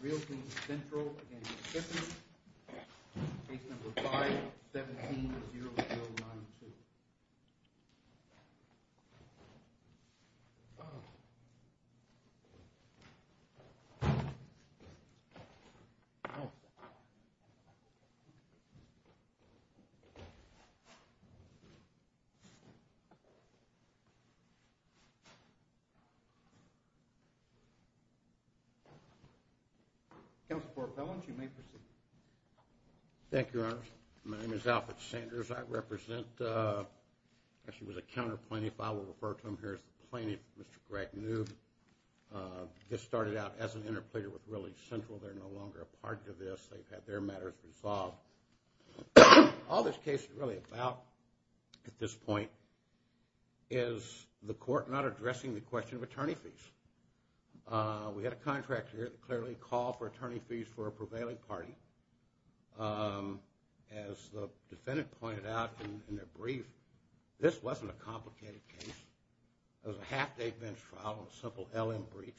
Realty Central, Inc. v. Pippins Case No. 5-17-0092 Alfred Sanders, Counsel for Appellant, County Court of Appeal Thank you, Your Honor. My name is Alfred Sanders. I represent, actually was a counter plaintiff. I will refer to him here as the plaintiff, Mr. Greg Newb. This started out as an interpleader with Realty Central. They're no longer a part of this. They've had their matters resolved. All this case is really about at this point is the court not addressing the question of attorney fees. We had a contractor here that clearly called for attorney fees for a prevailing party. As the defendant pointed out in their brief, this wasn't a complicated case. It was a half-day bench trial on a simple L.M. breach.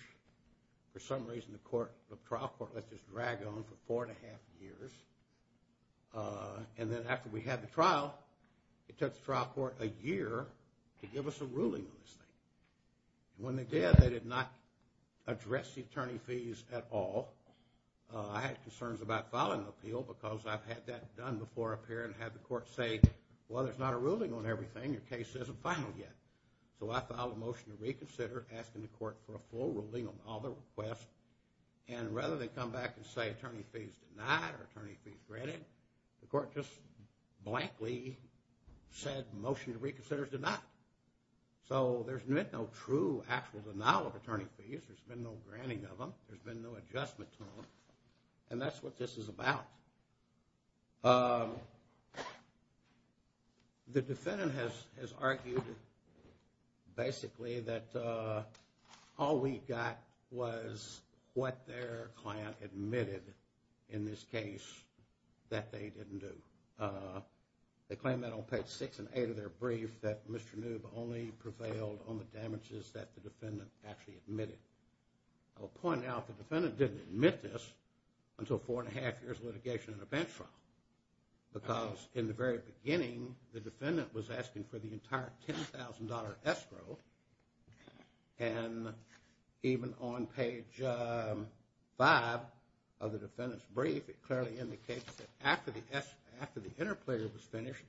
For some reason, the trial court let this drag on for four and a half years. And then after we had the trial, it took the trial court a year to give us a ruling on this thing. When they did, they did not address the attorney fees at all. I had concerns about filing an appeal because I've had that done before up here and had the court say, well, there's not a ruling on everything. Your case isn't final yet. So I filed a motion to reconsider asking the court for a full ruling on all the requests. And rather than come back and say attorney fees denied or attorney fees granted, the court just blankly said motion to reconsider is denied. So there's been no true actual denial of attorney fees. There's been no granting of them. There's been no adjustment to them. And that's what this is about. The defendant has argued basically that all we got was what their client admitted in this case that they didn't do. They claim that on page six and eight of their brief that Mr. Noob only prevailed on the damages that the defendant actually admitted. I will point out the defendant didn't admit this until four and a half years of litigation in a bench trial. Because in the very beginning, the defendant was asking for the entire $10,000 escrow. And even on page five of the defendant's brief, it clearly indicates that after the interpleader was finished,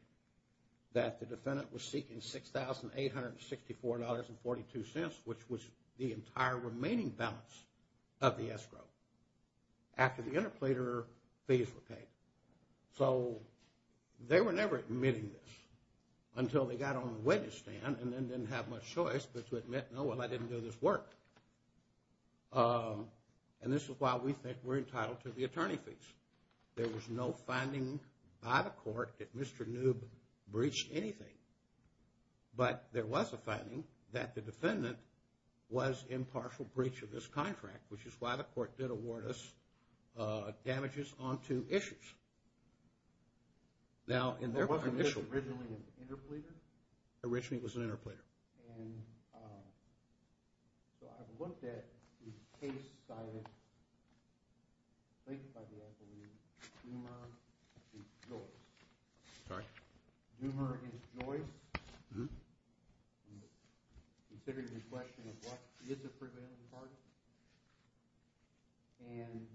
that the defendant was seeking $6,864.42, which was the entire remaining balance of the escrow. After the interpleader, fees were paid. So they were never admitting this until they got on the witness stand and then didn't have much choice but to admit, no, well, I didn't do this work. And this is why we think we're entitled to the attorney fees. There was no finding by the court that Mr. Noob breached anything. But there was a finding that the defendant was in partial breach of this contract, which is why the court did award us damages on two issues. Now, in their initial – But wasn't this originally an interpleader? Originally, it was an interpleader. And so I've looked at the case cited, linked by the attorney, Zumer v. Joyce. Sorry? Zumer v. Joyce. Zumer v. Joyce considered the question of what is a prevailing party. And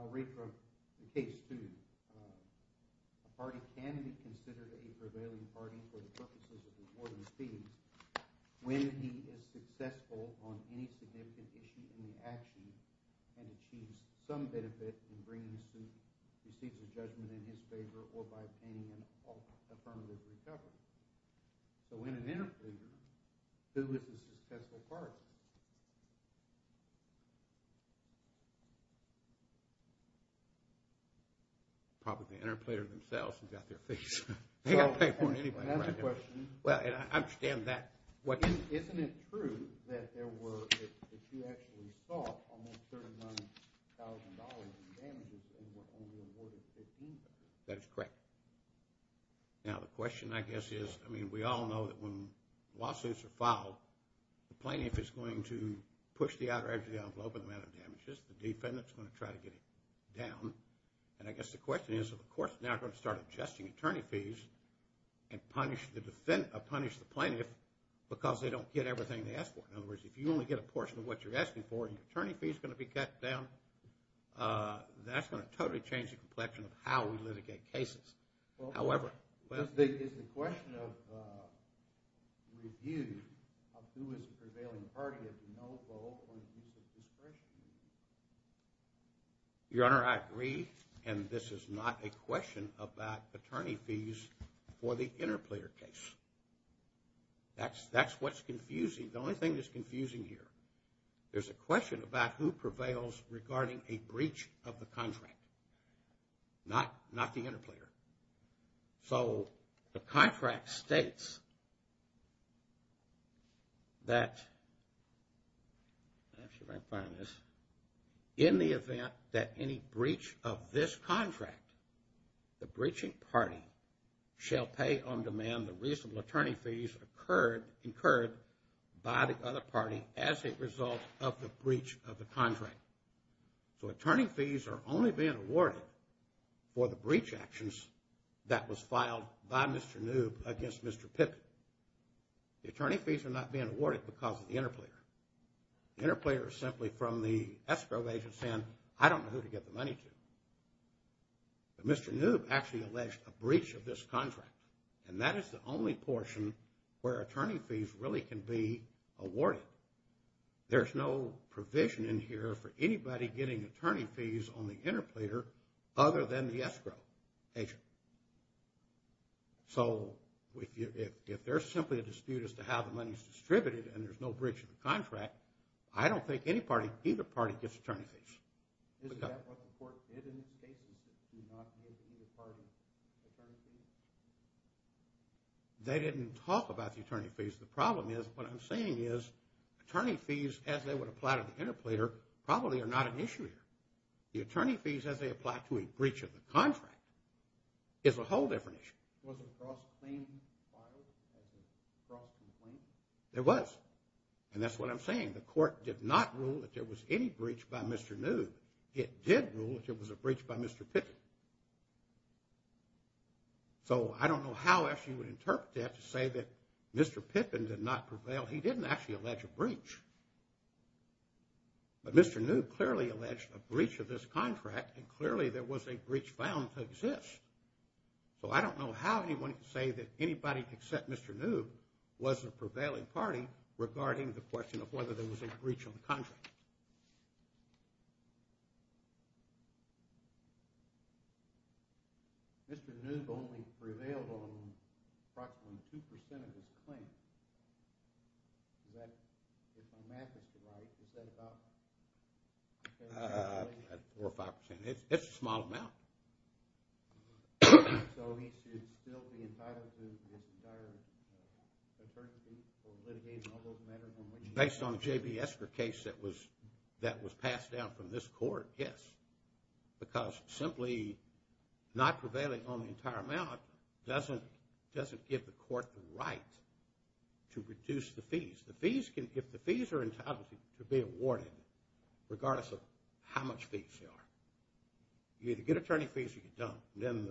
I'll read from the case to you. A party can be considered a prevailing party for the purposes of awarding fees when he is successful on any significant issue in the action and achieves some benefit in bringing the suit, receives a judgment in his favor or by obtaining an affirmative recovery. So in an interpleader, who is a successful party? Probably the interpleader themselves who got their fees. They got paid more than anybody. That's a question. Well, and I understand that. Well, isn't it true that there were – that you actually saw almost $39,000 in damages and were only awarded $15,000? That is correct. Now, the question, I guess, is – I mean, we all know that when lawsuits are filed, the plaintiff is going to push the outer edge of the envelope with the amount of damages. The defendant is going to try to get it down. And I guess the question is, are the courts now going to start adjusting attorney fees and punish the plaintiff because they don't get everything they ask for? In other words, if you only get a portion of what you're asking for and your attorney fee is going to be cut down, that's going to totally change the complexion of how we litigate cases. However – Is the question of review of who is the prevailing party of the no vote on the use of discretionary fees? Your Honor, I agree, and this is not a question about attorney fees for the interplayer case. That's what's confusing. The only thing that's confusing here, there's a question about who prevails regarding a breach of the contract, not the interplayer. So the contract states that – I'm not sure if I can find this. In the event that any breach of this contract, the breaching party shall pay on demand the reasonable attorney fees incurred by the other party as a result of the breach of the contract. So attorney fees are only being awarded for the breach actions that was filed by Mr. Noob against Mr. Pippitt. The attorney fees are not being awarded because of the interplayer. The interplayer is simply from the escrow agent saying, I don't know who to give the money to. But Mr. Noob actually alleged a breach of this contract, and that is the only portion where attorney fees really can be awarded. There's no provision in here for anybody getting attorney fees on the interplayer other than the escrow agent. So if there's simply a dispute as to how the money is distributed and there's no breach of the contract, I don't think any party, either party gets attorney fees. Is that what the court did in the statement, that you do not give either party attorney fees? They didn't talk about the attorney fees. The problem is, what I'm saying is, attorney fees as they would apply to the interplayer probably are not an issue here. The attorney fees as they apply to a breach of the contract is a whole different issue. Was a cross-claim filed as a cross-complaint? It was, and that's what I'm saying. The court did not rule that there was any breach by Mr. Noob. It did rule that there was a breach by Mr. Pippin. So I don't know how else you would interpret that to say that Mr. Pippin did not prevail. He didn't actually allege a breach. But Mr. Noob clearly alleged a breach of this contract, and clearly there was a breach found to exist. So I don't know how anyone could say that anybody except Mr. Noob was a prevailing party regarding the question of whether there was a breach of the contract. Mr. Noob only prevailed on approximately 2% of his claims. That's a massive divide. Is that about? 4% or 5%. It's a small amount. So he should still be entitled to his entire attorney's fees for litigating all those matters? Based on the J.B. Esker case that was passed down from this court, yes. Because simply not prevailing on the entire amount doesn't give the court the right to reduce the fees. If the fees are entitled to be awarded, regardless of how much fees there are, you either get attorney fees or you don't. Then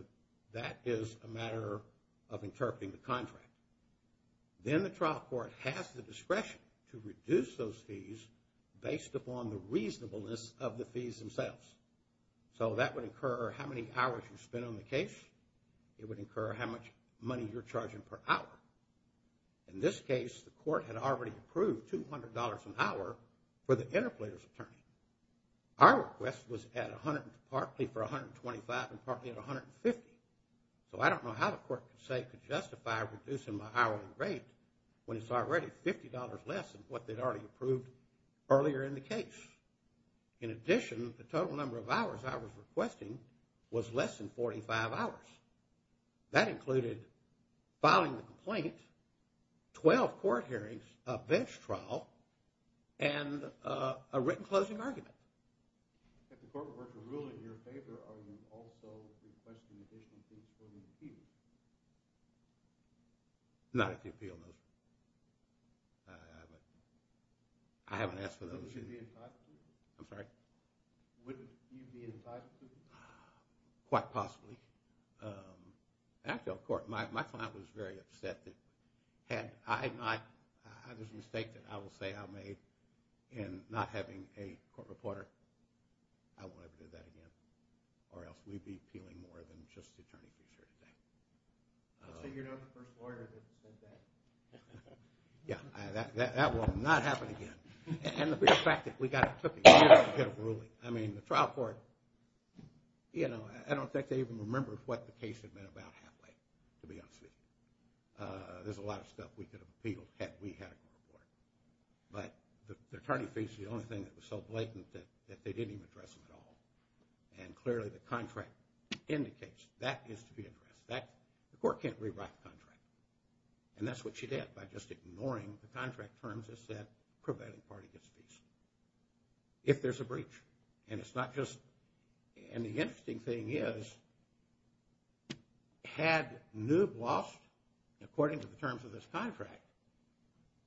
that is a matter of interpreting the contract. Then the trial court has the discretion to reduce those fees based upon the reasonableness of the fees themselves. So that would incur how many hours you spend on the case. It would incur how much money you're charging per hour. In this case, the court had already approved $200 an hour for the interpleader's attorney. Our request was at $100 partly for $125 and partly at $150. So I don't know how the court could justify reducing my hourly rate when it's already $50 less than what they'd already approved earlier in the case. In addition, the total number of hours I was requesting was less than 45 hours. That included filing the complaint, 12 court hearings, a bench trial, and a written closing argument. If the court were to rule in your favor, are you also requesting additional fees for the interpleader? Not at the appeal notice. I haven't asked for those. Would you be incited to? I'm sorry? Would you be incited to? Quite possibly. Actually, of course. My client was very upset that I had this mistake that I will say I made in not having a court reporter. I won't ever do that again or else we'd be appealing more than just the attorney. So you're not the first lawyer to say that? Yeah. That will not happen again. And the fact that we got it took years to get a ruling. I mean, the trial court, you know, I don't think they even remembered what the case had been about halfway, to be honest with you. There's a lot of stuff we could have appealed had we had a court reporter. But the attorney faced the only thing that was so blatant that they didn't even address it at all. And clearly the contract indicates that needs to be addressed. The court can't rewrite the contract. And that's what she did by just ignoring the contract terms that said prevailing party gets fees. If there's a breach. And it's not just – and the interesting thing is had Newb lost according to the terms of this contract,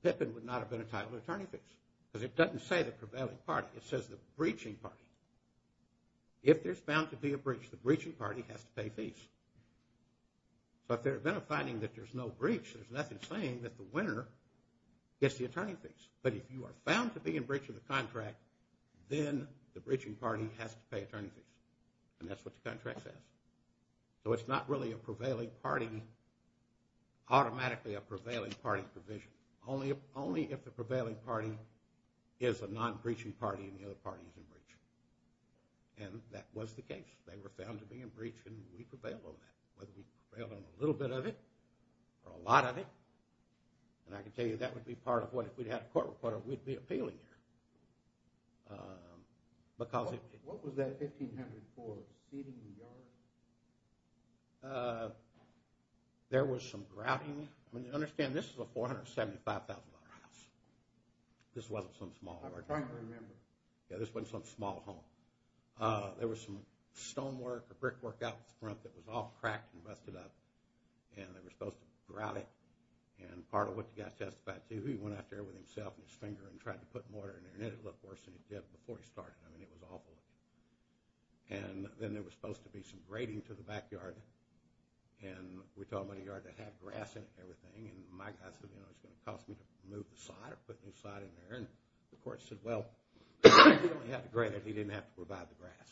Pippin would not have been entitled to attorney fees. Because it doesn't say the prevailing party. It says the breaching party. If there's bound to be a breach, the breaching party has to pay fees. So if there had been a finding that there's no breach, there's nothing saying that the winner gets the attorney fees. But if you are found to be in breach of the contract, then the breaching party has to pay attorney fees. And that's what the contract says. So it's not really a prevailing party – automatically a prevailing party provision. Only if the prevailing party is a non-breaching party and the other party is in breach. And that was the case. They were found to be in breach and we prevailed on that. Whether we prevailed on a little bit of it or a lot of it. And I can tell you that would be part of what, if we had a court report, we'd be appealing here. What was that $1,500 for? Steeding the yard? There was some grouting. Understand this is a $475,000 house. This wasn't some small – I'm trying to remember. Yeah, this wasn't some small home. There was some stonework or brickwork out in front that was all cracked and busted up. And they were supposed to grout it. And part of what the guy testified to, he went out there with himself and his finger and tried to put mortar in there and it looked worse than it did before he started. I mean, it was awful. And then there was supposed to be some grading to the backyard. And we told him about a yard that had grass in it and everything. And my guy said, you know, it's going to cost me to move the sod or put a new sod in there. And the court said, well, he only had to grade it. He didn't have to provide the grass.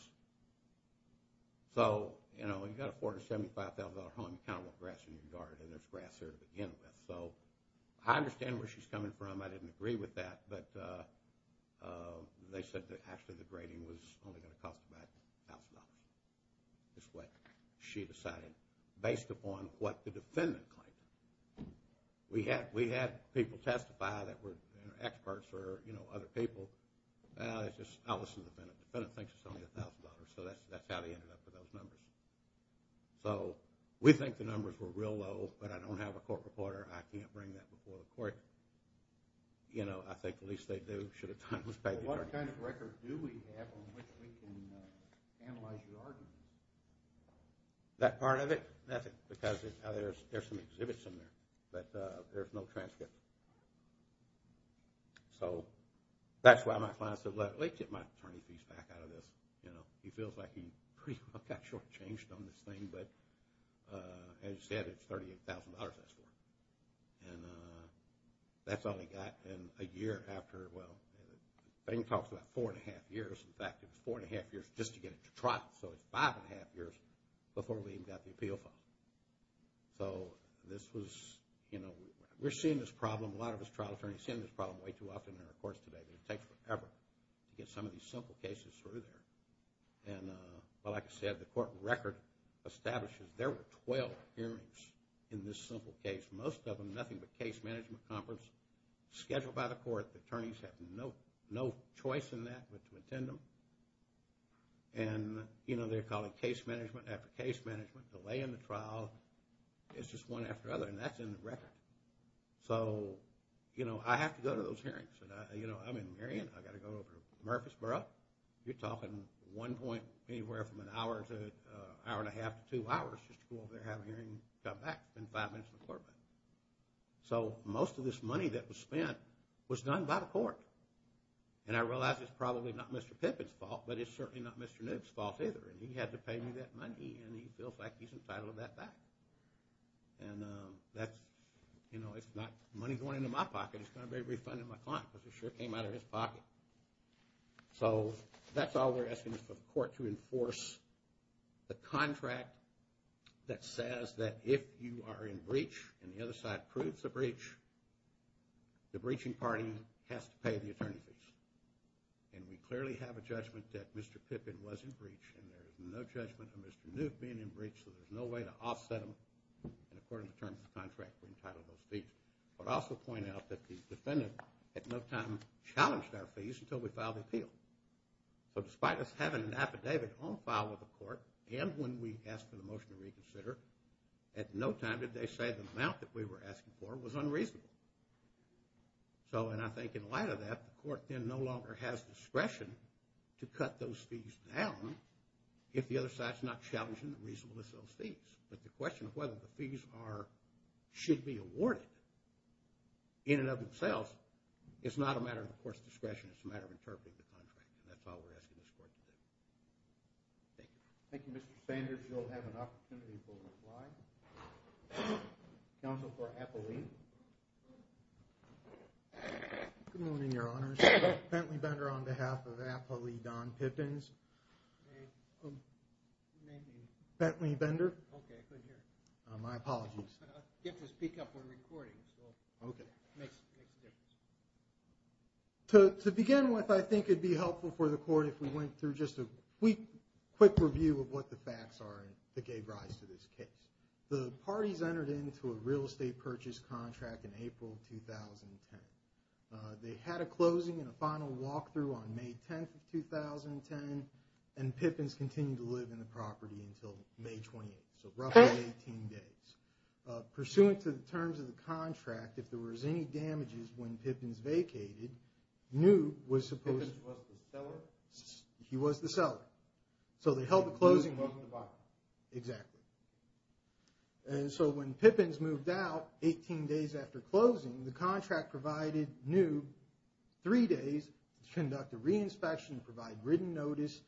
So, you know, you've got a $475,000 home, you can't put grass in your yard and there's grass there to begin with. So I understand where she's coming from. I didn't agree with that. But they said that actually the grading was only going to cost about $1,000. That's what she decided based upon what the defendant claimed. We had people testify that were experts or, you know, other people. I'll listen to the defendant. The defendant thinks it's only $1,000. So that's how they ended up with those numbers. So we think the numbers were real low, but I don't have a court reporter. I can't bring that before the court. You know, I think at least they do should a time be paid. What kind of record do we have on which we can analyze your argument? That part of it? That's it because there's some exhibits in there, but there's no transcript. So that's why my client said, let's get my attorney fees back out of this. You know, he feels like he pretty much got shortchanged on this thing, but as you said, it's $38,000 that's for. And that's all he got. And a year after, well, I think he talks about four and a half years. In fact, it was four and a half years just to get it to trial. So it's five and a half years before we even got the appeal file. So this was, you know, we're seeing this problem. A lot of us trial attorneys are seeing this problem way too often in our courts today, but it takes forever to get some of these simple cases through there. And like I said, the court record establishes there were 12 hearings in this simple case, most of them nothing but case management conference scheduled by the court. The attorneys have no choice in that but to attend them. And, you know, they're calling case management after case management, delaying the trial, it's just one after another, and that's in the record. So, you know, I have to go to those hearings. You know, I'm in Marion, I've got to go over to Murfreesboro. You're talking one point anywhere from an hour to an hour and a half to two hours just to go over there and have a hearing and come back. It's been five minutes in the courtroom. So most of this money that was spent was done by the court. And I realize it's probably not Mr. Pippitt's fault, but it's certainly not Mr. Nook's fault either. He had to pay me that money and he feels like he's entitled to that back. And that's, you know, it's not money going into my pocket, it's going to be a refund in my pocket because it sure came out of his pocket. So that's all we're asking of the court to enforce the contract that says that if you are in breach and the other side proves the breach, the breaching party has to pay the attorney fees. And we clearly have a judgment that Mr. Pippitt was in breach and there's no judgment of Mr. Nook being in breach, so there's no way to offset him. And according to the terms of the contract, we're entitled to those fees. But I'll also point out that the defendant at no time challenged our fees until we filed the appeal. So despite us having an affidavit on file with the court and when we asked for the motion to reconsider, at no time did they say the amount that we were asking for was unreasonable. So, and I think in light of that, the court then no longer has discretion to cut those fees down if the other side's not challenging the reasonableness of those fees. But the question of whether the fees should be awarded in and of themselves, it's not a matter of the court's discretion, it's a matter of interpreting the contract. And that's all we're asking this court to do. Thank you. Thank you, Mr. Sanders. Mr. Sanders, you'll have an opportunity for a reply. Counsel for Appley. Good morning, Your Honors. Bentley Bender on behalf of Appley Don Pippins. Bentley Bender. Okay, I couldn't hear you. My apologies. You have to speak up, we're recording. Okay. To begin with, I think it'd be helpful for the court if we went through just a quick review of what the facts are that gave rise to this case. The parties entered into a real estate purchase contract in April of 2010. They had a closing and a final walkthrough on May 10th of 2010, and Pippins continued to live in the property until May 28th, so roughly 18 days. Pursuant to the terms of the contract, if there was any damages when Pippins vacated, Newb was supposed to... Pippins was the seller? He was the seller. So they held the closing... Newb wasn't the buyer. Exactly. And so when Pippins moved out 18 days after closing, the contract provided Newb three days to conduct a reinspection, provide written notice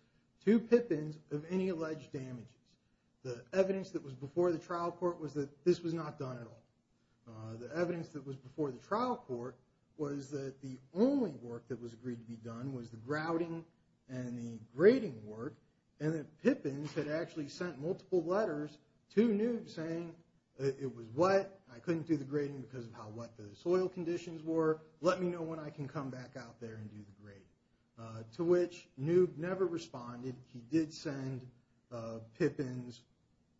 to Pippins of any alleged damages. The evidence that was before the trial court was that this was not done at all. The evidence that was before the trial court was that the only work that was agreed to be done was the grouting and the grading work, and that Pippins had actually sent multiple letters to Newb saying, it was wet, I couldn't do the grading because of how wet the soil conditions were, let me know when I can come back out there and do the grading. To which Newb never responded. He did send Pippins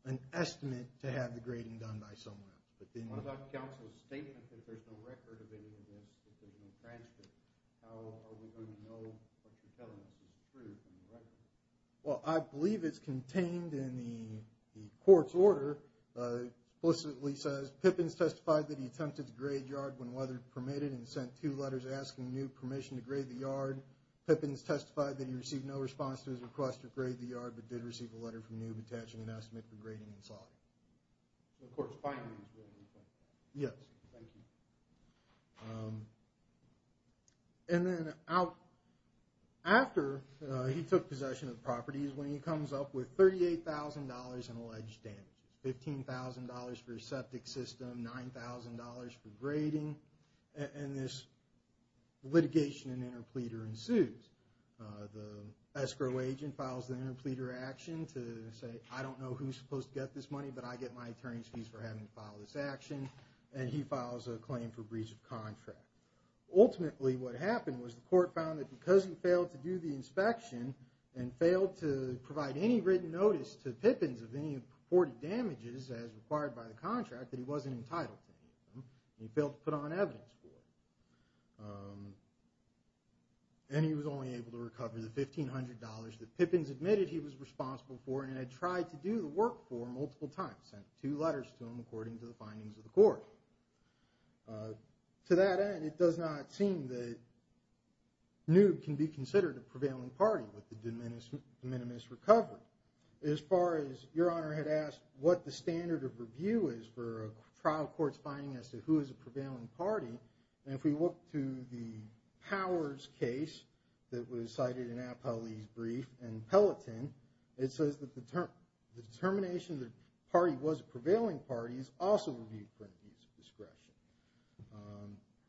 an estimate to have the grading done by someone, but what about counsel's statement that there's no record of any of this? How are we going to know what you're telling us is the truth? Well, I believe it's contained in the court's order. It explicitly says, Pippins testified that he attempted to grade yard when weather permitted and sent two letters asking Newb permission to grade the yard. Pippins testified that he received no response to his request to grade the yard, but did receive a letter from Newb attaching an estimate for grading and soil. The court's findings were in effect. Yes. And then after he took possession of the properties, when he comes up with $38,000 in alleged damage, $15,000 for a septic system, $9,000 for grading, and this litigation and interpleader ensues, the escrow agent files the interpleader action to say, I don't know who's supposed to get this money, but I get my attorney's fees for having to file this action. And he files a claim for breach of contract. Ultimately what happened was the court found that because he failed to do the inspection and failed to provide any written notice to Pippins of any reported damages as required by the contract, that he wasn't entitled to any of them. And he failed to put on evidence for it. And he was only able to recover the $1,500 that Pippins admitted he was responsible for and was allowed to do the work for multiple times, sent two letters to him according to the findings of the court. To that end, it does not seem that Newt can be considered a prevailing party with the de minimis recovery. As far as Your Honor had asked what the standard of review is for a trial court's finding as to who is a prevailing party, and if we look to the Powers case that was cited in Appellee's brief and Peloton, it says that the determination that the party was a prevailing party is also reviewed for an abuse of discretion.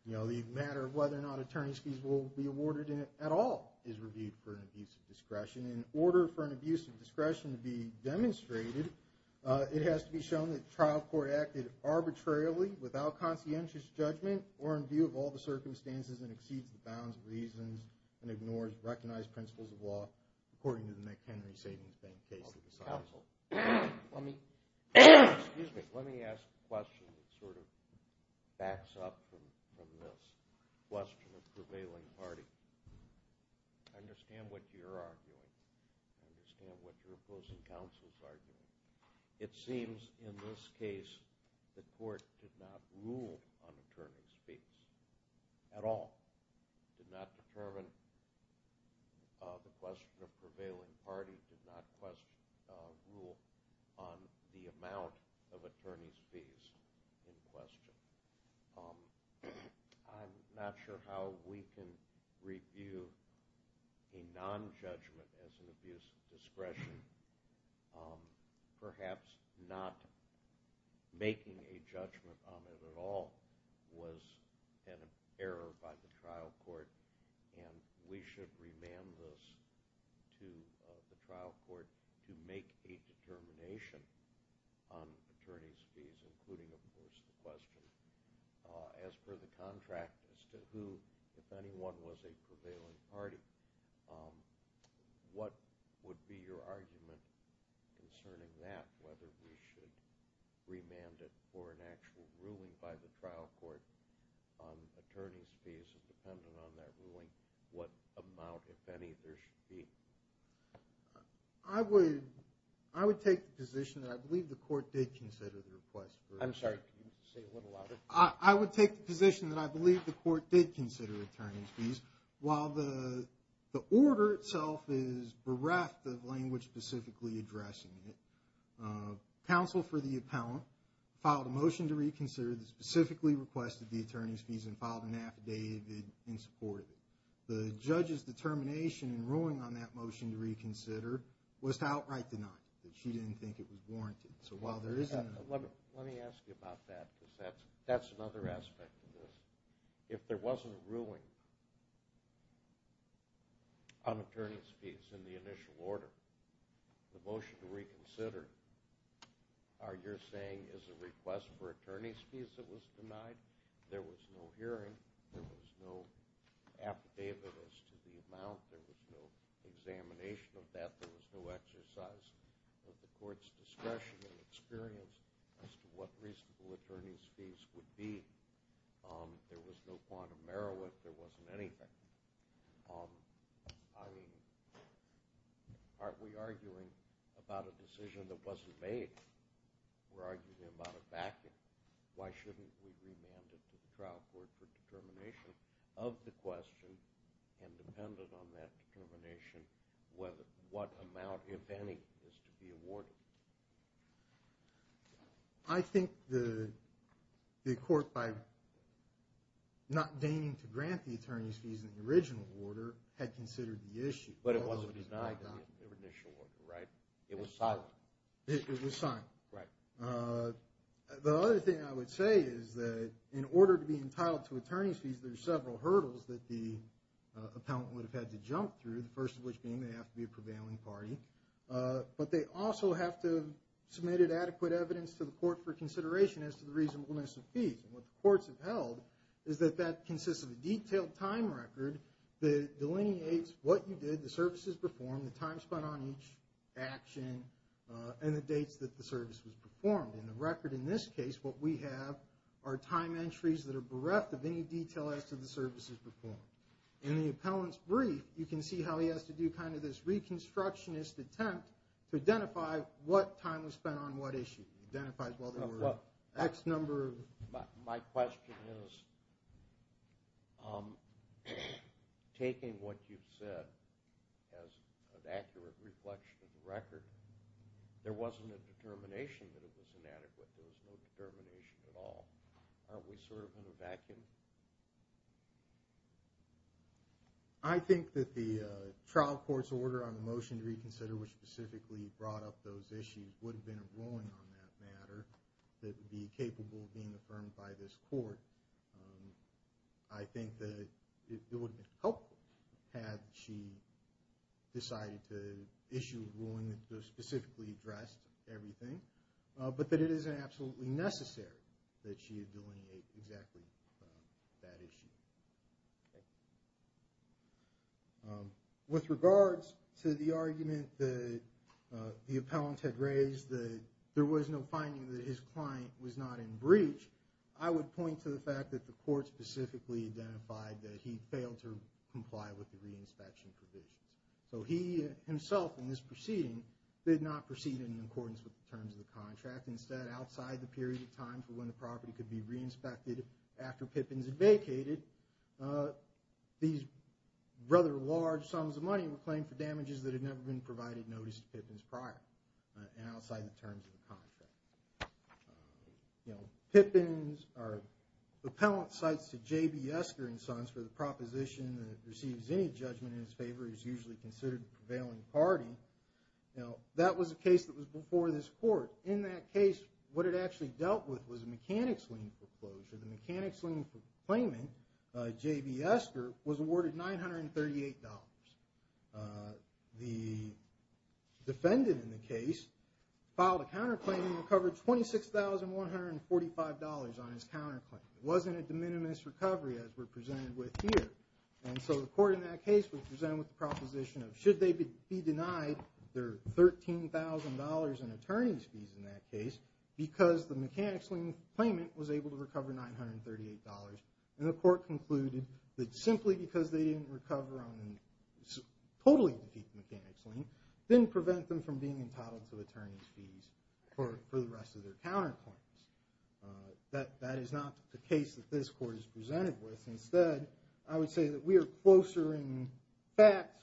The matter of whether or not attorney's fees will be awarded at all is reviewed for an abuse of discretion. In order for an abuse of discretion to be demonstrated, it has to be shown that the trial court acted arbitrarily without conscientious judgment or in view of all the circumstances and exceeds the bounds of reasons and ignores recognized principles of law according to the McHenry Savings Bank case that was cited. Let me ask a question that sort of backs up from this question of prevailing party. I understand what you're arguing. I understand what your opposing counsel is arguing. It seems in this case the court did not rule on attorney's fees at all. It did not determine the question of prevailing party. It did not rule on the amount of attorney's fees in question. I'm not sure how we can review a nonjudgment as an abuse of discretion. Perhaps not making a judgment on it at all was an error by the trial court and we should remand this to the trial court to make a determination on attorney's fees, including, of course, the question as per the contract as to who, if anyone was a prevailing party. What would be your argument concerning that, whether we should remand it for an actual ruling by the trial court on attorney's fees dependent on that ruling, what amount, if any, there should be? I would take the position that I believe the court did consider the request. I'm sorry, say it a little louder. I would take the position that I believe the court did consider attorney's fees while the order itself is bereft of language specifically addressing it. Counsel for the appellant filed a motion to reconsider that specifically requested the attorney's fees and filed an affidavit in support of it. The judge's determination in ruling on that motion to reconsider was to outright deny it. She didn't think it was warranted. Let me ask you about that because that's another aspect of this. If there wasn't a ruling on attorney's fees in the initial order, the motion to reconsider, are you saying is a request for attorney's fees that was denied, there was no hearing, there was no affidavit as to the amount, there was no examination of that, there was no exercise of the court's discretion and experience as to what reasonable attorney's fees would be and there was no quantum error if there wasn't anything? I mean, aren't we arguing about a decision that wasn't made? We're arguing about a backing. Why shouldn't we remand it to the trial court for determination of the question and dependent on that determination what amount, if any, is to be awarded? I think the court, by not deigning to grant the attorney's fees in the original order, had considered the issue. But it wasn't denied in the initial order, right? It was signed. It was signed. The other thing I would say is that in order to be entitled to attorney's fees, there are several hurdles that the appellant would have had to jump through, the first of which being they have to be a prevailing party, but they also have to have submitted adequate evidence to the court for consideration as to the reasonableness of fees. And what the courts have held is that that consists of a detailed time record that delineates what you did, the services performed, the time spent on each action, and the dates that the service was performed. In the record in this case, what we have are time entries that are bereft of any detail as to the services performed. In the appellant's brief, you can see how he has to do kind of this reconstructionist attempt to identify what time was spent on what issue. It identifies whether there were X number of... My question is, taking what you've said as an accurate reflection of the record, there wasn't a determination that it was inadequate. There was no determination at all. Aren't we sort of in a vacuum? I think that the trial court's order on the motion to reconsider which specifically brought up those issues would have been a ruling on that matter that would be capable of being affirmed by this court. I think that it would have been helpful had she decided to issue a ruling that specifically addressed everything, but that it isn't absolutely necessary that she delineate exactly that issue. With regards to the argument that the appellant had raised that there was no finding that his client was not in breach, I would point to the fact that the court specifically identified that he failed to comply with the reinspection provisions. So he himself in this proceeding did not proceed in accordance with the terms of the contract. Instead, outside the period of time for when the property could be reinspected after Pippins had vacated, these rather large sums of money were claimed for damages that had never been provided notice to Pippins prior, and outside the terms of the contract. Pippins, or the appellant, cites to J.B. Esker and Sons for the proposition that if he receives any judgment in his favor, he's usually considered a prevailing party. Now, that was a case that was before this court. In that case, what it actually dealt with was a mechanics lien foreclosure. The mechanics lien proclaimant, J.B. Esker, was awarded $938. The defendant in the case filed a counterclaim and recovered $26,145 on his counterclaim. It wasn't a de minimis recovery as we're presented with here. And so the court in that case was presented with the proposition of should they be denied their $13,000 in attorney's fees in that case, because the mechanics lien claimant was able to recover $938. And the court concluded that simply because they didn't recover on a totally defeat mechanics lien, didn't prevent them from being entitled to attorney's fees for the rest of their counterclaims. That is not the case that this court is presented with. Instead, I would say that we are closer in fact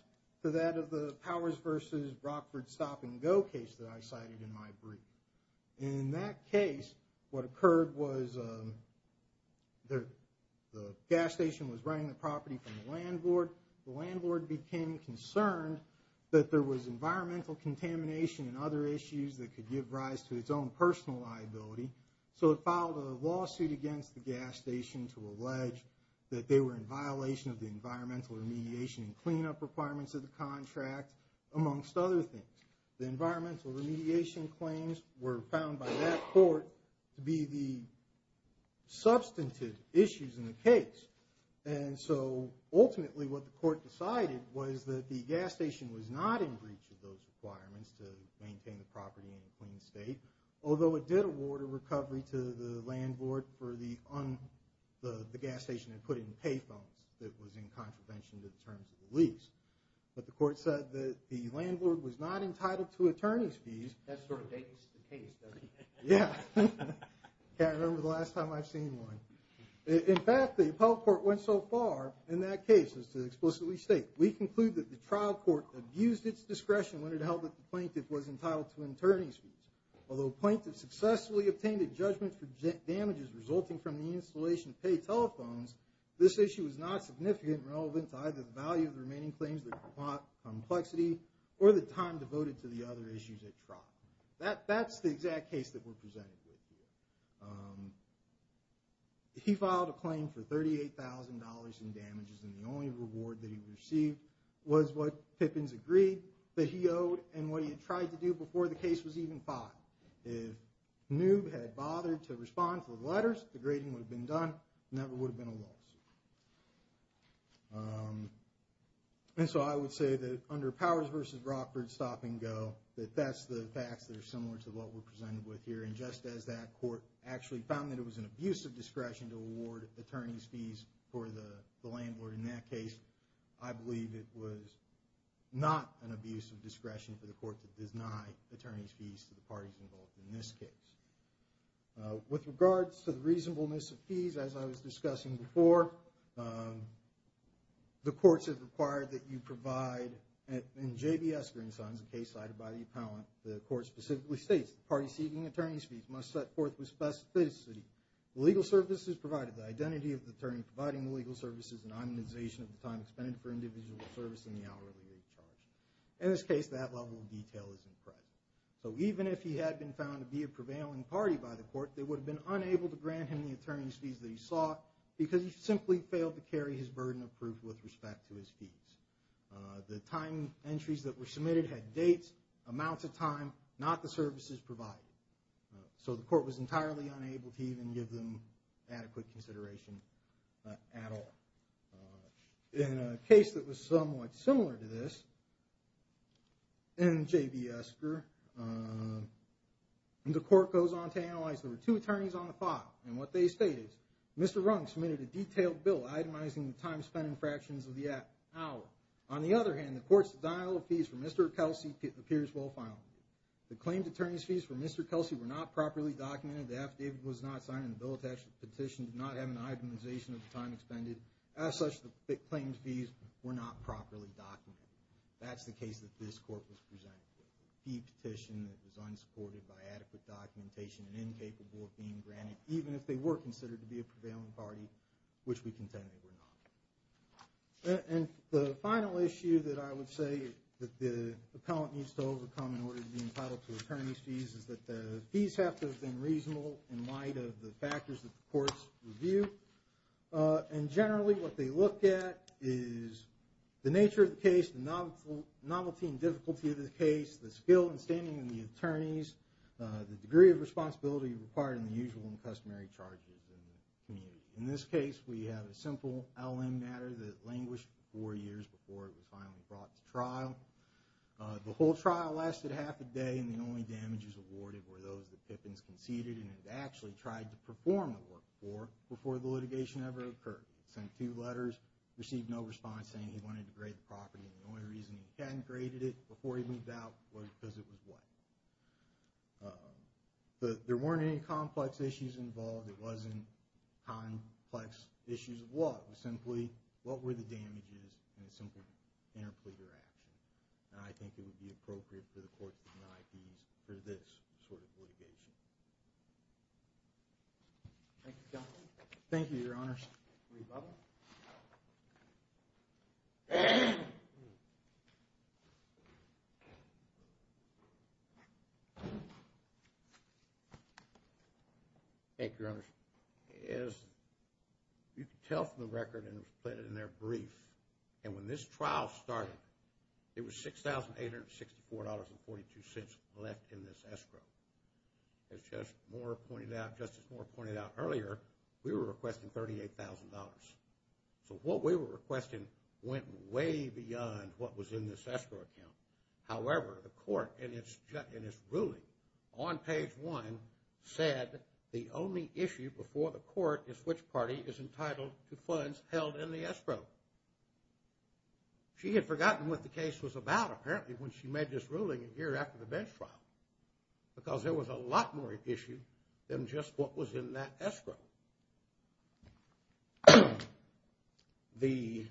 to that of the Powers v. Brockford Stop and Go case that I cited in my brief. In that case, what occurred was the gas station was renting the property from the landlord. The landlord became concerned that there was environmental contamination and other issues that could give rise to its own personal liability. So it filed a lawsuit against the gas station to allege that they were in violation of the environmental remediation and cleanup requirements of the contract, amongst other things. The environmental remediation claims were found by that court to be the substantive issues in the case. And so ultimately what the court decided was that the gas station was not in breach of those requirements to maintain the property in a clean state, although it did award a recovery to the landlord for the gas station and put in pay phones that was in contravention to the terms of the lease. But the court said that the landlord was not entitled to attorney's fees. That sort of dates the case, doesn't it? Yeah. I can't remember the last time I've seen one. In fact, the appellate court went so far in that case as to explicitly state, we conclude that the trial court abused its discretion when it held that the plaintiff was entitled to attorney's fees, although the plaintiff successfully obtained a judgment for damages resulting from the installation of pay telephones, this issue was not significant and relevant to either the value of the remaining claims, the complexity, or the time devoted to the other issues at trial. That's the exact case that we're presenting here. He filed a claim for $38,000 in damages and the only reward that he received was what Pippins agreed that he owed and what he had tried to do before the case was even filed. If Newb had bothered to respond to the letters, the grading would have been done, and that would have been a loss. And so I would say that under Powers v. Rockford, stop and go, that that's the facts that are similar to what we're presented with here. And just as that court actually found that it was an abuse of discretion to award attorney's fees for the landlord in that case, I believe it was not an abuse of discretion for the court to deny attorney's fees to the parties involved in this case. With regards to the reasonableness of fees, as I was discussing before, the courts have required that you provide, in J.B. Esker & Sons, a case cited by the appellant, the court specifically states, the party seeking attorney's fees must set forth with specificity the legal services provided, the identity of the attorney providing the legal services, and the immunization of the time expended for individual service in the hourly rate charge. All detail is in credit. So even if he had been found to be a prevailing party by the court, they would have been unable to grant him the attorney's fees that he sought because he simply failed to carry his burden of proof with respect to his fees. The time entries that were submitted had dates, amounts of time, not the services provided. So the court was entirely unable to even give them adequate consideration at all. In a case that was somewhat similar to this, in J.B. Esker, the court goes on to analyze there were two attorneys on the file, and what they stated, Mr. Rung submitted a detailed bill itemizing the time spent in fractions of the hour. On the other hand, the court's denial of fees for Mr. Kelsey appears well filed. The claimed attorney's fees for Mr. Kelsey were not properly documented. The affidavit was not signed, and the bill attached to the petition did not have an itemization of the time expended. As such, the claimed fees did not have a fee petition that was unsupported by adequate documentation and incapable of being granted, even if they were considered to be a prevailing party, which we contend they were not. And the final issue that I would say that the appellant needs to overcome in order to be entitled to attorney's fees is that the fees have to have been reasonable in light of the factors that the courts review. And generally, what they look at is the nature of the case, the novelty and difficulty of the case, the skill in standing in the attorneys, the degree of responsibility required in the usual and customary charges in the community. In this case, we have a simple LM matter that languished for four years before it was finally brought to trial. The whole trial lasted half a day, and the only damages awarded were those that Pippins conceded and had actually tried to perform the work for before the litigation ever occurred. He sent two letters, received no response, saying he wanted to grade the property, and the only reason he hadn't graded it was because it was wet. But there weren't any complex issues involved. It wasn't complex issues of what. It was simply what were the damages and a simple interpleader action. And I think it would be appropriate for the courts to deny fees for this sort of litigation. Thank you, Your Honor. Thank you, Your Honor. Rebubble. Thank you, Your Honor. As you can tell from the record and it was put in there brief, and when this trial started, it was $6,864.42 left in this escrow. As Justice Moore pointed out earlier, we were requesting $38,000. So what we were requesting However, the property owner and the property owner of the court in its ruling on page one said the only issue before the court is which party is entitled to funds held in the escrow. She had forgotten what the case was about apparently when she made this ruling a year after the bench trial because there was a lot more at issue than just what was in that escrow. The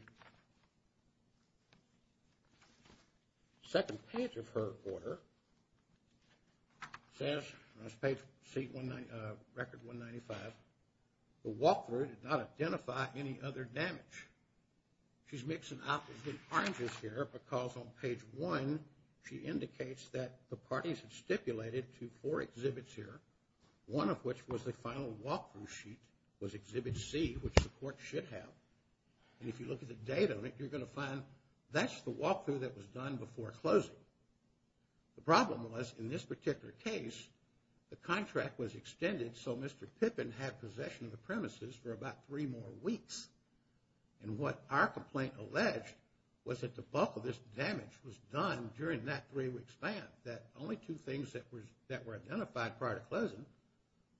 second page of her order says on this page, record 195, the walkthrough did not identify any other damage. She's mixing up the oranges here because on page one she indicates that the parties have stipulated to four exhibits here, one of which was the final walkthrough sheet was exhibit C which the court should have. And if you look at the date on it, you're going to find that's the walkthrough that was done before closing. The problem was in this particular case, the contract was extended so Mr. Pippin had possession of the premises for about three more weeks. And what our complaint alleged was that the bulk of this damage was done during that three-week span that only two things that were identified prior to closing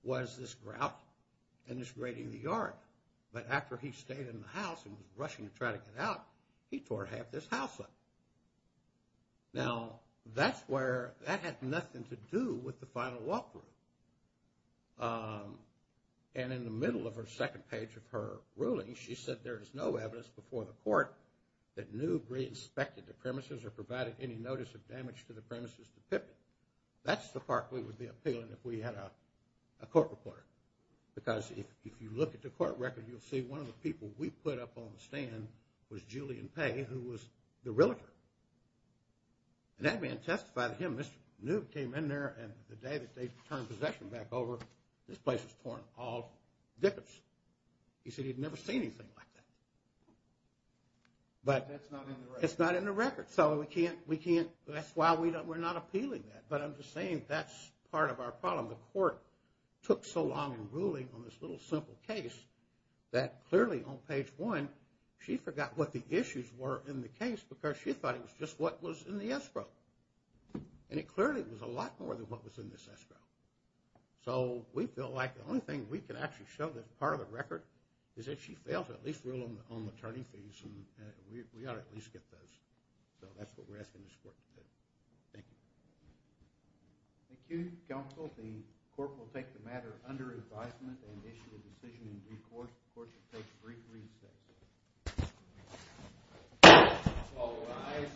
was this grout and this grating of the yard. But after he stayed in the house and was rushing to try to get out, he tore half this house up. Now that's where, that had nothing to do with the final walkthrough. And in the middle of her second page of her ruling, she said there is no evidence that Newb re-inspected the premises or provided any notice of damage to the premises to Pippin. A court reporter. Because if you look at the court record, you'll see one of the people we put up on the stand was Julian Paye, who was the realtor. And that man testified to him, Mr. Newb came in there and the day that they turned possession back over, this place was torn all to bits. He said he'd never seen anything like that. But it's not in the record. So we can't, that's why we're not appealing that. But I'm just saying that the court took so long in ruling on this little simple case that clearly on page one, she forgot what the issues were in the case because she thought it was just what was in the escrow. And it clearly was a lot more than what was in this escrow. So we feel like the only thing we can actually show that's part of the record is that she failed to at least rule on the attorney fees and we ought to at least get those. So that's what we're asking this court to do. Thank you. We'll take the matter under advisement and issue a decision in due course. The court should take a brief recess. All rise.